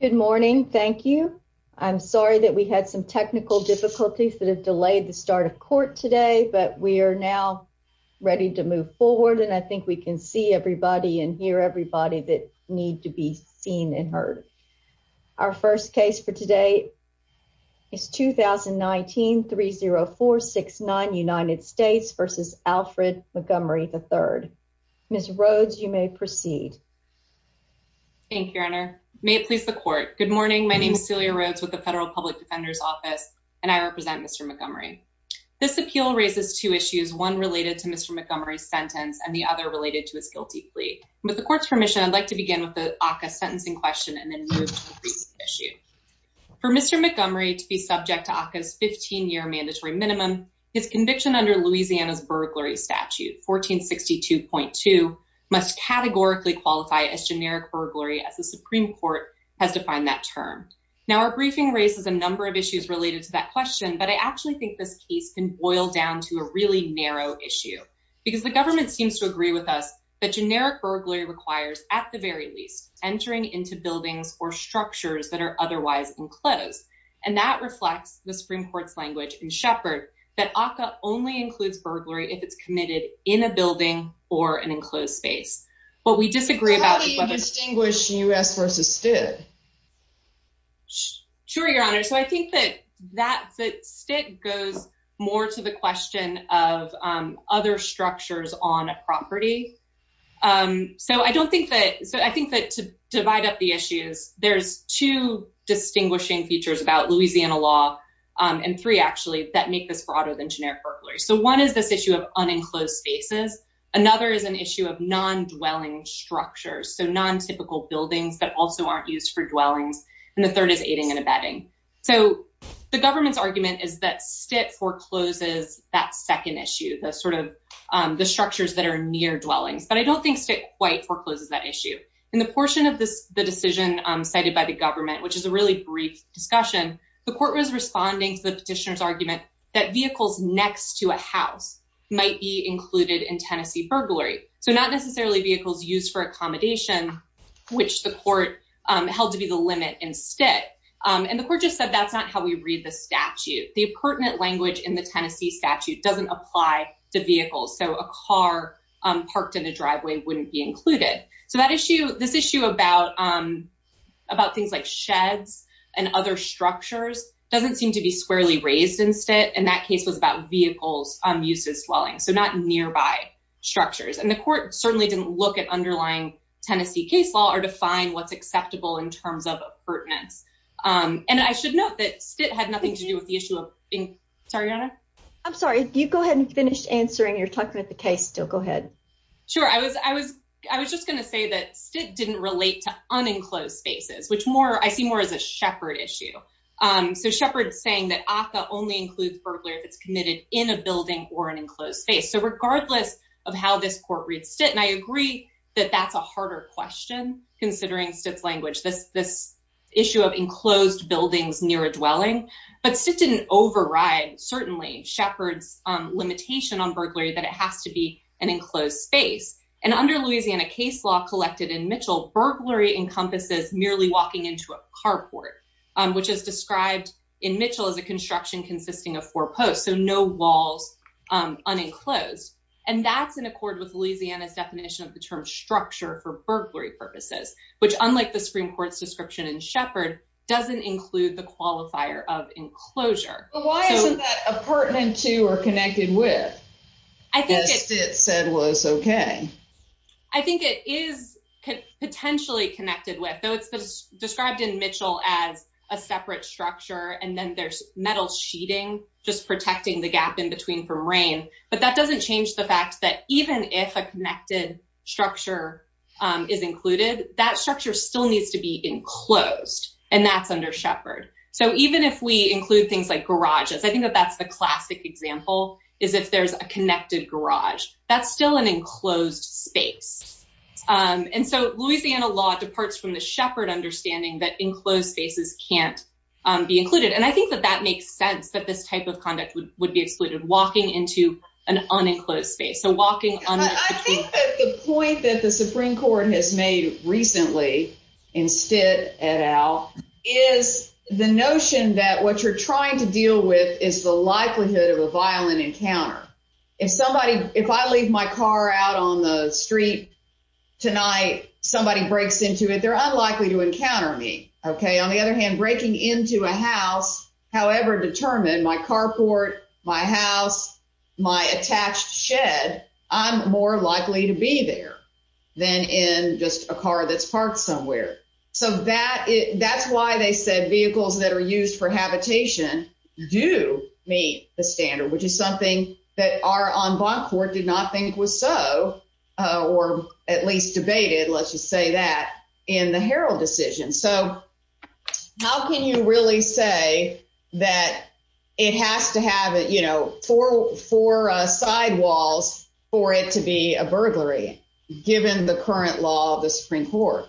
Good morning. Thank you. I'm sorry that we had some technical difficulties that have delayed the start of court today, but we are now ready to move forward. And I think we can see everybody in here. Everybody that need to be seen and heard. Our first case for today is 2019 30469 United States v. Alfred Montgomery, III. Ms. Rhodes, you may proceed. Thank you, Your Honor. May it please the court. Good morning. My name is Celia Rhodes with the Federal Public Defender's Office, and I represent Mr. Montgomery. This appeal raises two issues, one related to Mr. Montgomery's sentence and the other related to his guilty plea. With the court's permission, I'd like to begin with the ACCA sentencing question and then move to the recent issue. For Mr. Montgomery to be subject to ACCA's 15-year mandatory minimum, his conviction under Louisiana's burglary statute, 1462.2, must categorically qualify as generic burglary as the Supreme Court has defined that term. Now, our briefing raises a number of issues related to that question, but I actually think this case can boil down to a really narrow issue because the government seems to agree with us that generic burglary requires, at the very least, entering into buildings or structures that are otherwise enclosed. And that reflects the Supreme Court's language in Shepard that ACCA only includes burglary if it's committed in a building or an enclosed space. How do you distinguish U.S. versus Stitt? Sure, Your Honor. So I think that Stitt goes more to the question of other structures on a property. So I think that to divide up the issues, there's two distinguishing features about Louisiana law, and three, actually, that make this broader than generic burglary. So one is this issue of unenclosed spaces. Another is an issue of non-dwelling structures, so non-typical buildings that also aren't used for dwellings. And the third is aiding and abetting. So the government's argument is that Stitt forecloses that second issue, the structures that are near dwellings, but I don't think Stitt quite forecloses that issue. In the portion of the decision cited by the government, which is a really brief discussion, the court was responding to the petitioner's argument that vehicles next to a house might be included in Tennessee burglary. So not necessarily vehicles used for accommodation, which the court held to be the limit in Stitt. And the court just said that's not how we read the statute. The pertinent language in the Tennessee statute doesn't apply to vehicles, so a car parked in a driveway wouldn't be included. So this issue about things like sheds and other structures doesn't seem to be squarely raised in Stitt. And that case was about vehicles used as dwellings, so not nearby structures. And the court certainly didn't look at underlying Tennessee case law or define what's acceptable in terms of pertinence. And I should note that Stitt had nothing to do with the issue of — sorry, Your Honor? I'm sorry, you go ahead and finish answering. You're talking about the case still. Go ahead. Sure. I was just going to say that Stitt didn't relate to unenclosed spaces, which I see more as a Shepard issue. So Shepard's saying that ACCA only includes burglary if it's committed in a building or an enclosed space. So regardless of how this court reads Stitt, and I agree that that's a harder question, considering Stitt's language, this issue of enclosed buildings near a dwelling. But Stitt didn't override, certainly, Shepard's limitation on burglary that it has to be an enclosed space. And under Louisiana case law collected in Mitchell, burglary encompasses merely walking into a carport, which is described in Mitchell as a construction consisting of four posts, so no walls unenclosed. And that's in accord with Louisiana's definition of the term structure for burglary purposes, which, unlike the Supreme Court's description in Shepard, doesn't include the qualifier of enclosure. But why isn't that a pertinent to or connected with, as Stitt said was okay? I think it is potentially connected with, though it's described in Mitchell as a separate structure, and then there's metal sheeting just protecting the gap in between from rain. But that doesn't change the fact that even if a connected structure is included, that structure still needs to be enclosed, and that's under Shepard. So even if we include things like garages, I think that that's the classic example, is if there's a connected garage, that's still an enclosed space. And so Louisiana law departs from the Shepard understanding that enclosed spaces can't be included. And I think that that makes sense, that this type of conduct would be excluded, walking into an unenclosed space. So walking unenclosed. I think that the point that the Supreme Court has made recently in Stitt et al. is the notion that what you're trying to deal with is the likelihood of a violent encounter. If I leave my car out on the street tonight, somebody breaks into it, they're unlikely to encounter me. On the other hand, breaking into a house, however determined, my carport, my house, my attached shed, I'm more likely to be there than in just a car that's parked somewhere. So that's why they said vehicles that are used for habitation do meet the standard, which is something that our en banc court did not think was so, or at least debated, let's just say that, in the Herald decision. So how can you really say that it has to have four sidewalls for it to be a burglary, given the current law of the Supreme Court?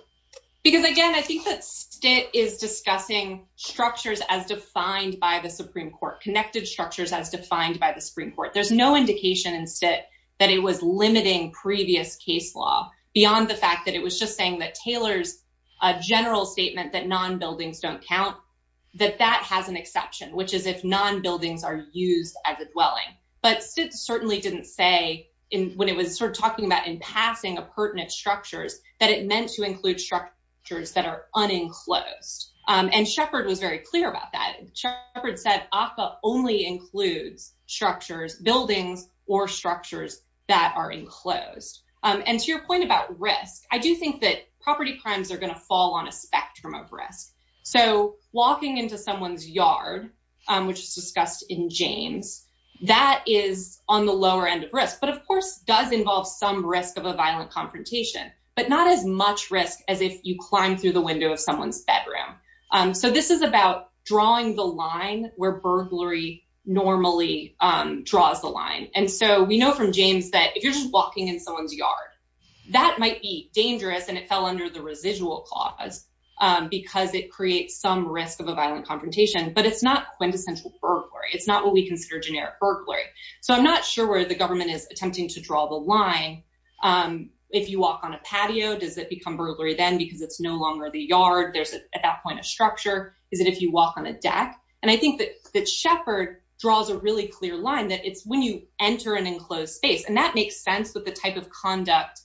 Because, again, I think that Stitt is discussing structures as defined by the Supreme Court, connected structures as defined by the Supreme Court. There's no indication in Stitt that it was limiting previous case law beyond the fact that it was just saying that Taylor's general statement that non-buildings don't count, that that has an exception, which is if non-buildings are used as a dwelling. But Stitt certainly didn't say, when it was sort of talking about impassing of pertinent structures, that it meant to include structures that are unenclosed. And Shepard was very clear about that. Shepard said APA only includes structures, buildings or structures that are enclosed. And to your point about risk, I do think that property crimes are going to fall on a spectrum of risk. So walking into someone's yard, which is discussed in James, that is on the lower end of risk, but of course does involve some risk of a violent confrontation, but not as much risk as if you climb through the window of someone's bedroom. So this is about drawing the line where burglary normally draws the line. And so we know from James that if you're just walking in someone's yard, that might be dangerous and it fell under the residual clause because it creates some risk of a violent confrontation. But it's not quintessential burglary. It's not what we consider generic burglary. So I'm not sure where the government is attempting to draw the line. If you walk on a patio, does it become burglary then because it's no longer the yard? There's at that point a structure. Is it if you walk on a deck? And I think that Shepard draws a really clear line that it's when you enter an enclosed space. And that makes sense with the type of conduct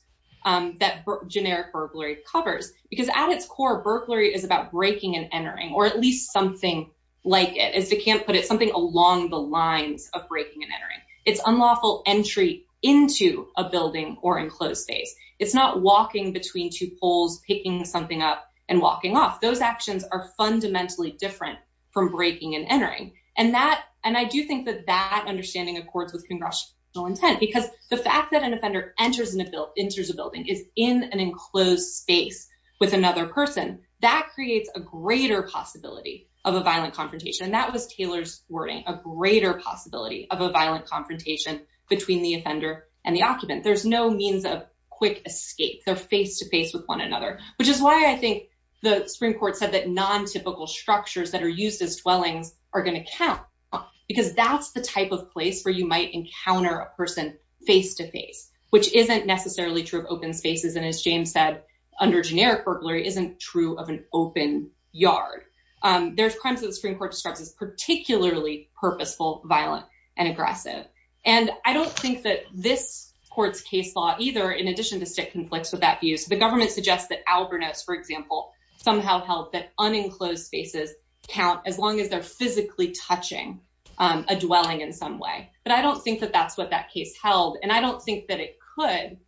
that generic burglary covers, because at its core, burglary is about breaking and entering or at least something like it is. They can't put it something along the lines of breaking and entering its unlawful entry into a building or enclosed space. It's not walking between two poles, picking something up and walking off. Those actions are fundamentally different from breaking and entering. And I do think that that understanding accords with congressional intent, because the fact that an offender enters a building is in an enclosed space with another person. That creates a greater possibility of a violent confrontation. And that was Taylor's wording, a greater possibility of a violent confrontation between the offender and the occupant. There's no means of quick escape. They're face to face with one another. Which is why I think the Supreme Court said that non-typical structures that are used as dwellings are going to count, because that's the type of place where you might encounter a person face to face, which isn't necessarily true of open spaces. And as James said, under generic burglary isn't true of an open yard. There's crimes that the Supreme Court describes as particularly purposeful, violent and aggressive. And I don't think that this court's case law either, in addition to Stitt, conflicts with that view. So the government suggests that Alvernos, for example, somehow held that unenclosed spaces count as long as they're physically touching a dwelling in some way. But I don't think that that's what that case held. And I don't think that it could,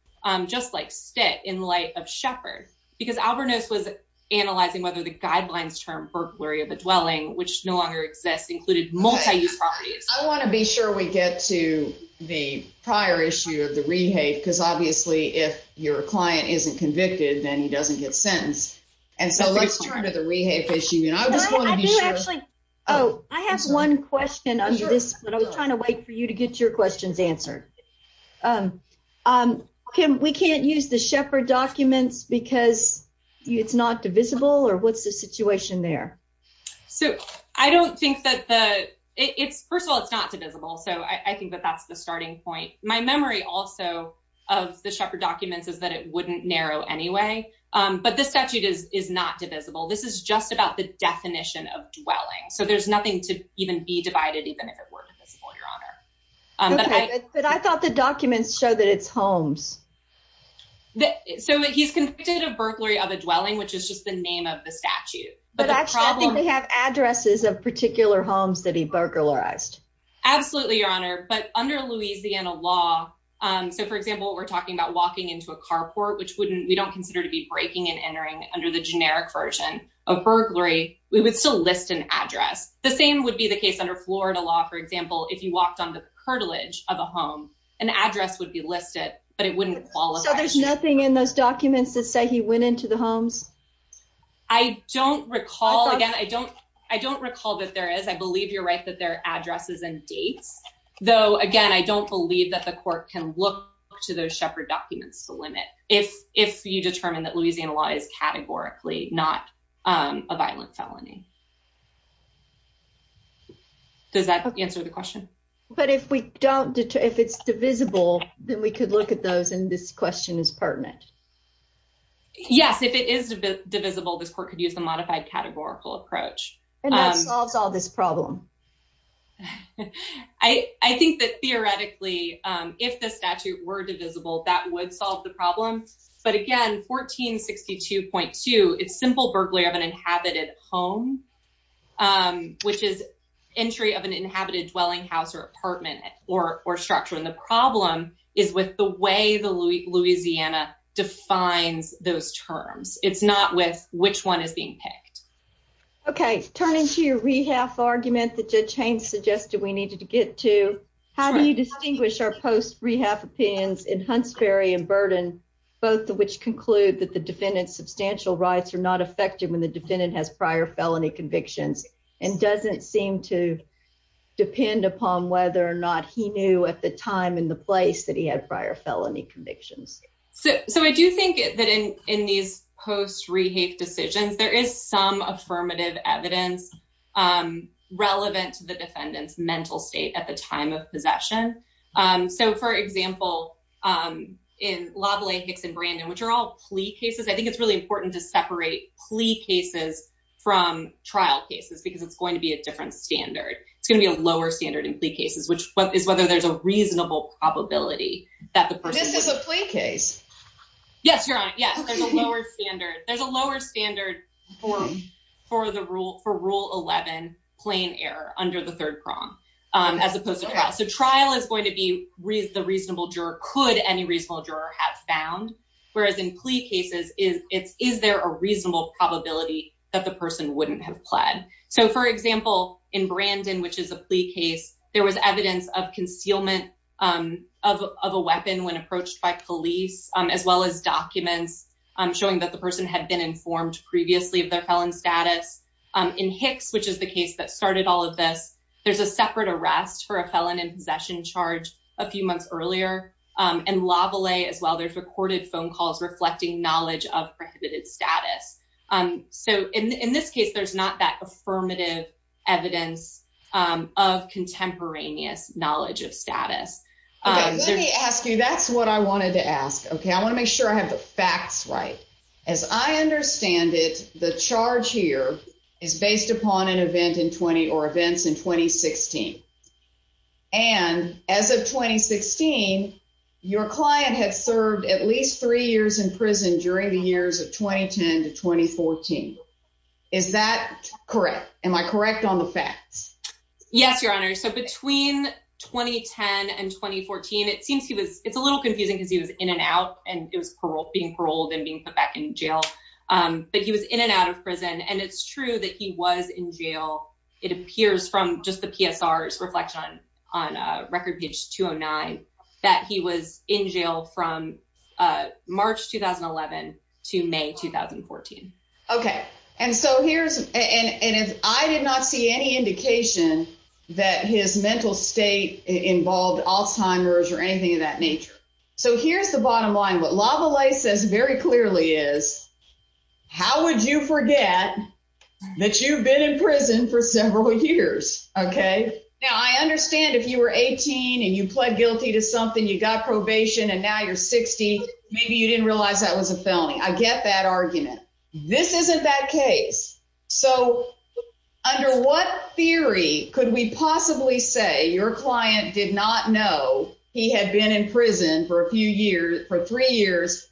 just like Stitt, in light of Shepard. Because Alvernos was analyzing whether the guidelines termed burglary of a dwelling, which no longer exists, included multi-use properties. I want to be sure we get to the prior issue of the rehave. Because obviously, if your client isn't convicted, then he doesn't get sentenced. And so let's turn to the rehave issue. And I just want to be sure. I do actually. Oh, I have one question on this. But I was trying to wait for you to get your questions answered. We can't use the Shepard documents because it's not divisible? Or what's the situation there? First of all, it's not divisible. So I think that that's the starting point. My memory also of the Shepard documents is that it wouldn't narrow anyway. But this statute is not divisible. This is just about the definition of dwelling. So there's nothing to even be divided, even if it were divisible, Your Honor. But I thought the documents show that it's Holmes. So he's convicted of burglary of a dwelling, which is just the name of the statute. But actually, I think they have addresses of particular homes that he burglarized. Absolutely, Your Honor. But under Louisiana law, so, for example, we're talking about walking into a carport, which we don't consider to be breaking and entering under the generic version of burglary. We would still list an address. The same would be the case under Florida law. For example, if you walked on the curtilage of a home, an address would be listed, but it wouldn't qualify. So there's nothing in those documents that say he went into the Holmes? I don't recall. Again, I don't I don't recall that there is. I believe you're right that there are addresses and dates, though. Again, I don't believe that the court can look to those shepherd documents to limit. If if you determine that Louisiana law is categorically not a violent felony. Does that answer the question? But if we don't, if it's divisible, then we could look at those. And this question is pertinent. Yes, if it is divisible, this court could use the modified categorical approach. And that solves all this problem. I think that theoretically, if the statute were divisible, that would solve the problem. But again, 1462.2, it's simple burglary of an inhabited home, which is entry of an inhabited dwelling house or apartment or structure. And the problem is with the way the Louisiana defines those terms. It's not with which one is being picked. Okay. Turn into your rehab argument that just changed suggested we needed to get to. How do you distinguish our post rehab opinions in Huntsbury and burden, both of which conclude that the defendant's substantial rights are not effective when the defendant has prior felony convictions and doesn't seem to depend upon whether or not he knew at the time. And the place that he had prior felony convictions. So I do think that in in these posts rehave decisions, there is some affirmative evidence relevant to the defendant's mental state at the time of possession. So, for example, in lovely Hicks and Brandon, which are all plea cases, I think it's really important to separate plea cases from trial cases, because it's going to be a different standard. It's going to be a lower standard in plea cases, which is whether there's a reasonable probability that the person is a plea case. Yes, you're right. Yes, there's a lower standard. There's a lower standard for for the rule for Rule 11 plain error under the third prong as opposed to trial. So trial is going to be the reasonable juror. Could any reasonable juror have found whereas in plea cases is it's is there a reasonable probability that the person wouldn't have pled. So, for example, in Brandon, which is a plea case, there was evidence of concealment of a weapon when approached by police, as well as documents showing that the person had been informed previously of their felon status in Hicks, which is the case that started all of this. There's a separate arrest for a felon in possession charge a few months earlier. As well, there's recorded phone calls reflecting knowledge of prohibited status. So in this case, there's not that affirmative evidence of contemporaneous knowledge of status. Let me ask you, that's what I wanted to ask. Okay, I want to make sure I have the facts right as I understand it. The charge here is based upon an event in 20 or events in 2016. And as of 2016, your client had served at least three years in prison during the years of 2010 to 2014. Is that correct? Am I correct on the facts? Yes, your honor. So, between 2010 and 2014, it seems he was it's a little confusing because he was in and out and it was parole being paroled and being put back in jail. But he was in and out of prison. And it's true that he was in jail. It appears from just the PSRs reflection on record page 209 that he was in jail from March 2011 to May 2014. Okay. And so here's and I did not see any indication that his mental state involved Alzheimer's or anything of that nature. So here's the bottom line. What LaValle says very clearly is, how would you forget that you've been in prison for several years? Okay. Now, I understand if you were 18 and you pled guilty to something, you got probation and now you're 60. Maybe you didn't realize that was a felony. I get that argument. This isn't that case. So, under what theory could we possibly say your client did not know he had been in prison for a few years for three years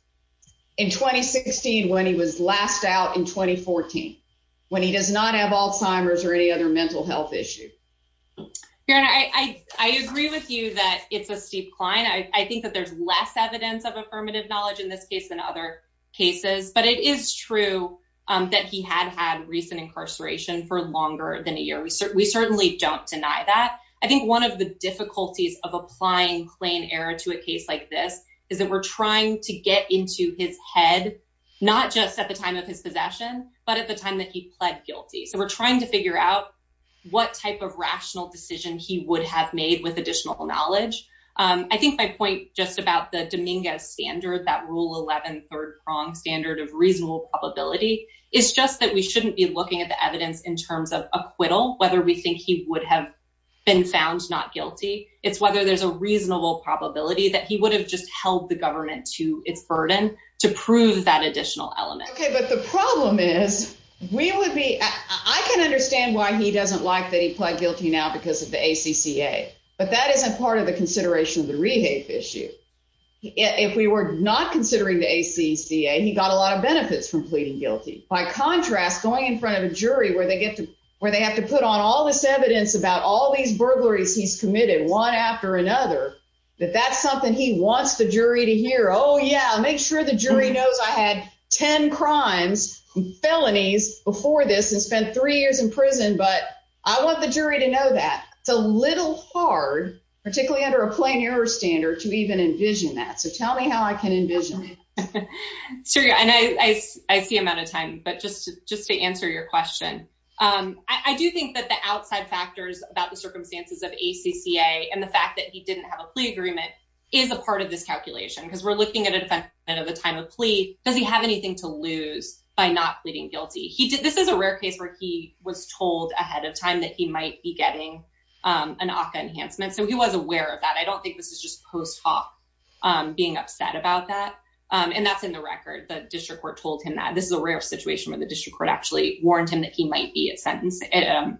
in 2016 when he was last out in 2014 when he does not have Alzheimer's or any other mental health issue. I agree with you that it's a steep climb. I think that there's less evidence of affirmative knowledge in this case than other cases, but it is true that he had had recent incarceration for longer than a year. We certainly don't deny that. I think one of the difficulties of applying plain error to a case like this is that we're trying to get into his head. Not just at the time of his possession, but at the time that he pled guilty. So we're trying to figure out what type of rational decision he would have made with additional knowledge. I think my point just about the Dominguez standard, that rule 11 third prong standard of reasonable probability, is just that we shouldn't be looking at the evidence in terms of acquittal, whether we think he would have been found not guilty. It's whether there's a reasonable probability that he would have just held the government to its burden to prove that additional element. Okay, but the problem is we would be I can understand why he doesn't like that. He pled guilty now because of the, but that isn't part of the consideration of the rehave issue. If we were not considering the ACCA, he got a lot of benefits from pleading guilty. By contrast, going in front of a jury where they get to where they have to put on all this evidence about all these burglaries he's committed one after another. But that's something he wants the jury to hear. Oh, yeah, make sure the jury knows I had 10 crimes felonies before this and spent three years in prison. But I want the jury to know that it's a little hard, particularly under a plain error standard to even envision that. So tell me how I can envision. And I see him out of time, but just just to answer your question, I do think that the outside factors about the circumstances of ACCA and the fact that he didn't have a plea agreement is a part of this calculation because we're looking at a time of plea. Does he have anything to lose by not pleading guilty? He did. This is a rare case where he was told ahead of time that he might be getting an ACCA enhancement. So he was aware of that. I don't think this is just post hoc being upset about that. And that's in the record. The district court told him that this is a rare situation where the district court actually warned him that he might be a sentence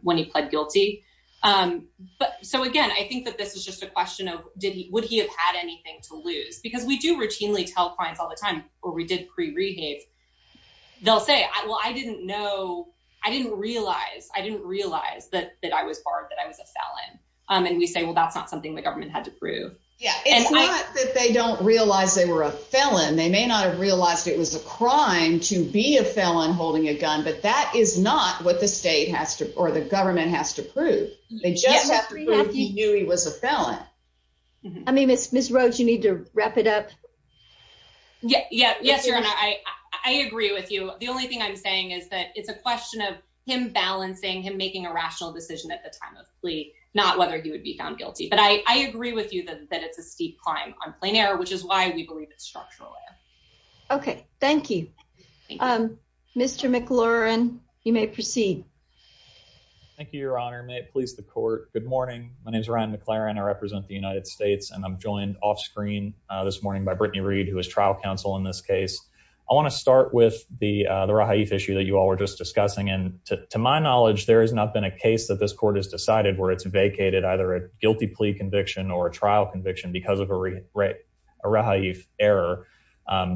when he pled guilty. But so, again, I think that this is just a question of did he would he have had anything to lose? Because we do routinely tell clients all the time or we did pre rehab. They'll say, well, I didn't know. I didn't realize I didn't realize that that I was barred, that I was a felon. And we say, well, that's not something the government had to prove. Yeah, it's not that they don't realize they were a felon. They may not have realized it was a crime to be a felon holding a gun. But that is not what the state has to or the government has to prove. They just have to prove he knew he was a felon. I mean, it's Miss Rhodes. You need to wrap it up. Yeah. Yeah. Yes. I agree with you. The only thing I'm saying is that it's a question of him balancing him making a rational decision at the time of plea, not whether he would be found guilty. But I agree with you that it's a steep climb on plein air, which is why we believe it's structural. OK, thank you, Mr. McLaurin. You may proceed. Thank you, Your Honor. May it please the court. Good morning. My name is Ryan McLaurin. I represent the United States and I'm joined off screen this morning by Brittany Reed, who is trial counsel in this case. I want to start with the the issue that you all were just discussing. And to my knowledge, there has not been a case that this court has decided where it's vacated, either a guilty plea conviction or a trial conviction because of a right. Error.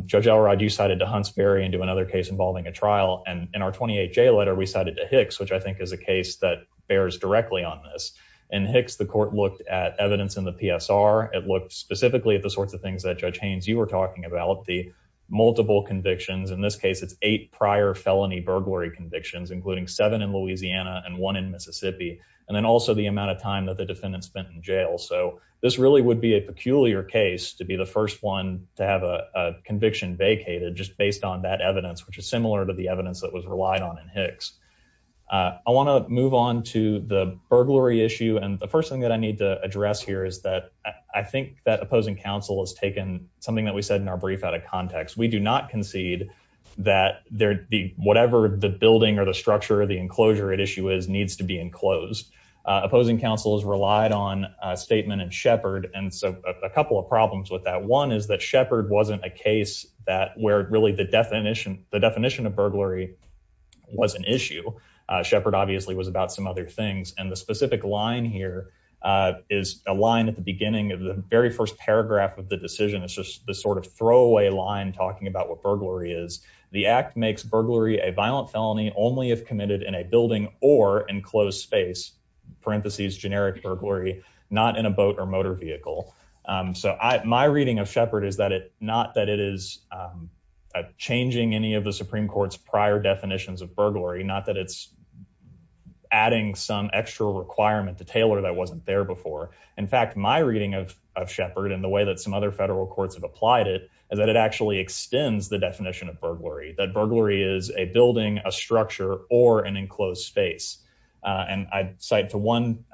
Judge Alrod, you cited to Huntsbury into another case involving a trial. And in our 28 J letter, we cited the Hicks, which I think is a case that bears directly on this. And Hicks, the court looked at evidence in the PSR. It looked specifically at the sorts of things that Judge Haynes, you were talking about, the multiple convictions. In this case, it's eight prior felony burglary convictions, including seven in Louisiana and one in Mississippi, and then also the amount of time that the defendant spent in jail. So this really would be a peculiar case to be the first one to have a conviction vacated just based on that evidence, which is similar to the evidence that was relied on in Hicks. I want to move on to the burglary issue. And the first thing that I need to address here is that I think that opposing counsel has taken something that we said in our brief out of context. We do not concede that whatever the building or the structure of the enclosure at issue is needs to be enclosed. Opposing counsel has relied on a statement in Shepard. And so a couple of problems with that. One is that Shepard wasn't a case where really the definition of burglary was an issue. Shepard obviously was about some other things. And the specific line here is a line at the beginning of the very first paragraph of the decision. It's just the sort of throwaway line talking about what burglary is. The act makes burglary a violent felony only if committed in a building or enclosed space, parentheses generic burglary, not in a boat or motor vehicle. So my reading of Shepard is that it not that it is changing any of the Supreme Court's prior definitions of burglary, not that it's adding some extra requirement to tailor that wasn't there before. In fact, my reading of Shepard and the way that some other federal courts have applied it is that it actually extends the definition of burglary, that burglary is a building, a structure or an enclosed space. And I cite to one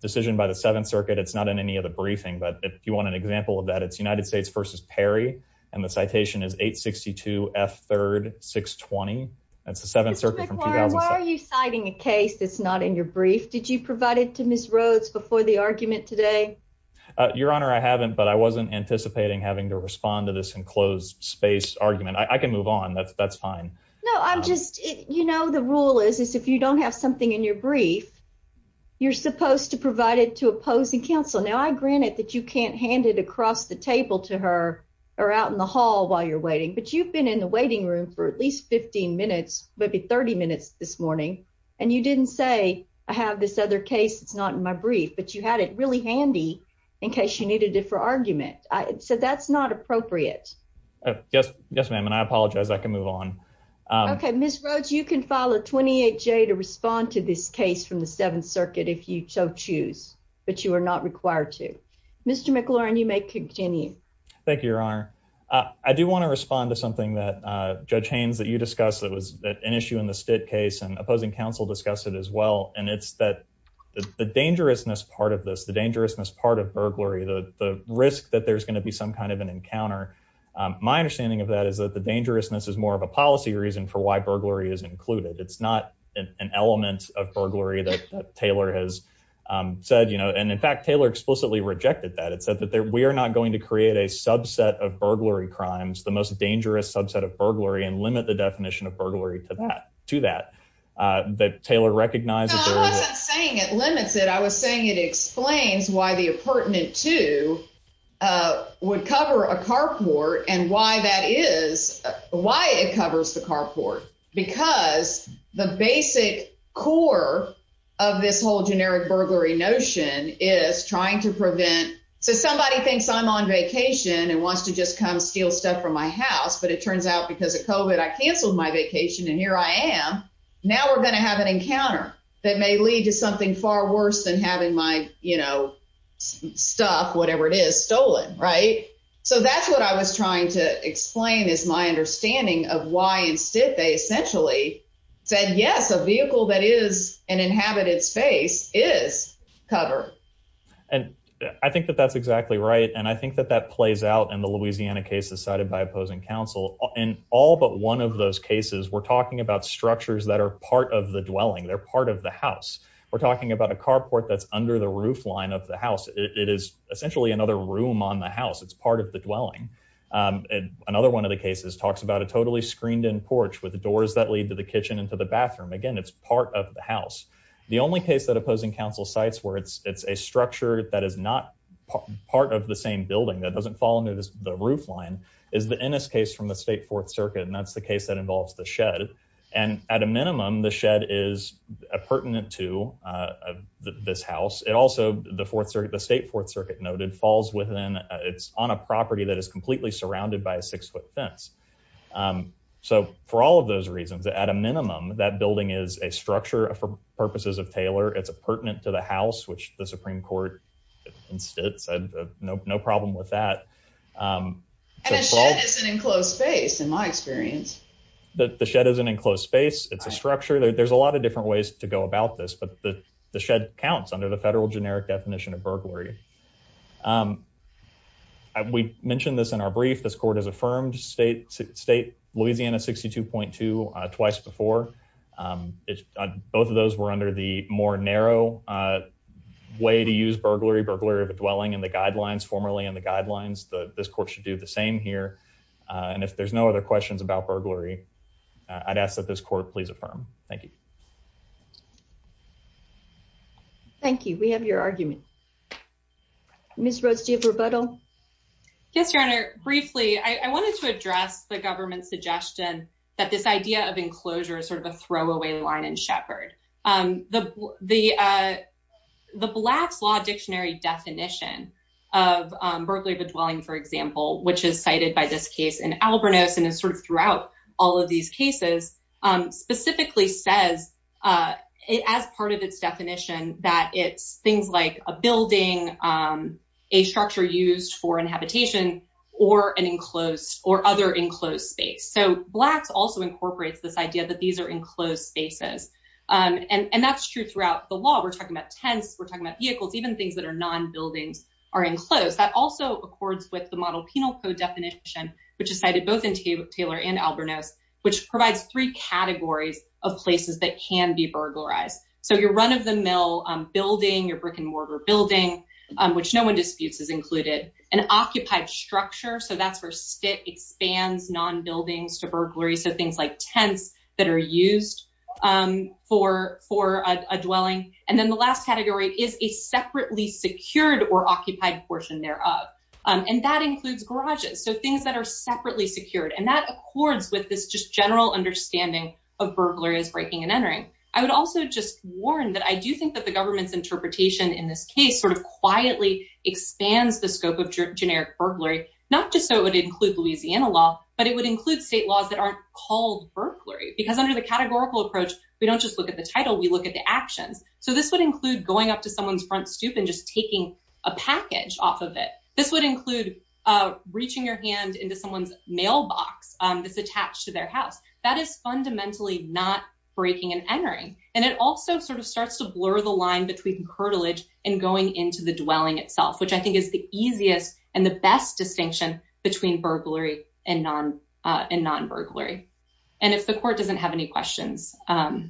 decision by the Seventh Circuit. It's not in any of the briefing, but if you want an example of that, it's United States versus Perry. And the citation is 862 F3rd 620. That's the Seventh Circuit from 2006. Why are you citing a case that's not in your brief? Did you provide it to Ms. Rhodes before the argument today? Your Honor, I haven't, but I wasn't anticipating having to respond to this enclosed space argument. I can move on. That's fine. No, I'm just, you know, the rule is, is if you don't have something in your brief, you're supposed to provide it to opposing counsel. Now, I grant it that you can't hand it across the table to her or out in the hall while you're waiting, but you've been in the waiting room for at least 15 minutes, maybe 30 minutes this morning. And you didn't say I have this other case. It's not in my brief, but you had it really handy in case you needed it for argument. So that's not appropriate. Yes, yes, ma'am. And I apologize. I can move on. Okay, Ms. Rhodes, you can follow 28 J to respond to this case from the Seventh Circuit if you so choose, but you are not required to Mr. McLaurin. You may continue. Thank you, Your Honor. I do want to respond to something that Judge Haynes that you discussed that was an issue in the state case and opposing counsel discuss it as well. And it's that the dangerousness part of this, the dangerousness part of burglary, the risk that there's going to be some kind of an encounter. My understanding of that is that the dangerousness is more of a policy reason for why burglary is included. It's not an element of burglary that Taylor has said, you know, and in fact, Taylor explicitly rejected that. It said that we are not going to create a subset of burglary crimes, the most dangerous subset of burglary and limit the definition of burglary to that to that that Taylor recognized. I wasn't saying it limits it. I was saying it explains why the pertinent to would cover a carport and why that is why it covers the carport because the basic core of this whole generic burglary notion is trying to prevent. So somebody thinks I'm on vacation and wants to just come steal stuff from my house, but it turns out because of covid I canceled my vacation and here I am. Now we're going to have an encounter that may lead to something far worse than having my, you know, stuff, whatever it is stolen. Right. So that's what I was trying to explain is my understanding of why instead they essentially said, yes, a vehicle that is an inhabited space is cover. And I think that that's exactly right. And I think that that plays out in the Louisiana cases cited by opposing counsel in all but one of those cases. We're talking about structures that are part of the dwelling. They're part of the house. We're talking about a carport that's under the roof line of the house. It is essentially another room on the house. It's part of the dwelling. And another one of the cases talks about a totally screened in porch with the doors that lead to the kitchen and to the bathroom. Again, it's part of the house. The only case that opposing counsel sites where it's it's a structure that is not part of the same building that doesn't fall under the roof line is the case from the state Fourth Circuit. And that's the case that involves the shed. And at a minimum, the shed is pertinent to this house. It also the Fourth Circuit, the state Fourth Circuit noted falls within. It's on a property that is completely surrounded by a six foot fence. So for all of those reasons, at a minimum, that building is a structure for purposes of Taylor. It's a pertinent to the house, which the Supreme Court instead said no problem with that. It's an enclosed space. In my experience, the shed is an enclosed space. It's a structure. There's a lot of different ways to go about this, but the shed counts under the federal generic definition of burglary. Um, we mentioned this in our brief. This court has affirmed state state Louisiana 62.2 twice before. Um, it's both of those were under the more narrow, uh, way to use burglary, burglary of a dwelling in the guidelines formerly in the guidelines. This court should do the same here. And if there's no other questions about burglary, I'd ask that this court please affirm. Thank you. Thank you. We have your argument. Miss Rose, do you have rebuttal? Yes, Your Honor. Briefly, I wanted to address the government suggestion that this idea of enclosure is sort of a throwaway line and shepherd. Um, the, the, uh. The Black's Law Dictionary definition of burglary of a dwelling, for example, which is cited by this case in Albernos and is sort of throughout all of these cases, um, specifically says, uh, as part of its definition that it's things like a building, um, a structure used for inhabitation or an enclosed or other enclosed space. So Black's also incorporates this idea that these are enclosed spaces. Um, and that's true throughout the law. We're talking about tents. We're talking about vehicles, even things that are non buildings are enclosed. That also accords with the model penal code definition, which is cited both in Taylor and Albernos, which provides three categories of places that can be burglarized. So your run of the mill building, your brick and mortar building, um, which no one disputes is included an occupied structure. So that's where STIT expands non buildings to burglary. So things like tents that are used, um, for, for a dwelling. And then the last category is a separately secured or occupied portion thereof. Um, and that includes garages. So things that are separately secured and that accords with this just general understanding of burglary as breaking and entering. I would also just warn that I do think that the government's interpretation in this case sort of quietly expands the scope of generic burglary, not just so it would include Louisiana law, but it would include state laws that aren't called burglary. Because under the categorical approach, we don't just look at the title. We look at the actions. So this would include going up to someone's front stoop and just taking a package off of it. This would include reaching your hand into someone's mailbox that's attached to their house. That is fundamentally not breaking and entering. And it also sort of starts to blur the line between curtilage and going into the dwelling itself, which I think is the easiest and the best distinction between burglary and non and non burglary. And if the court doesn't have any questions, I'll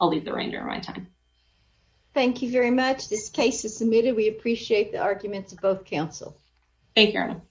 leave the rein during my time. Thank you very much. This case is submitted. We appreciate the arguments of both counsel. Thank you.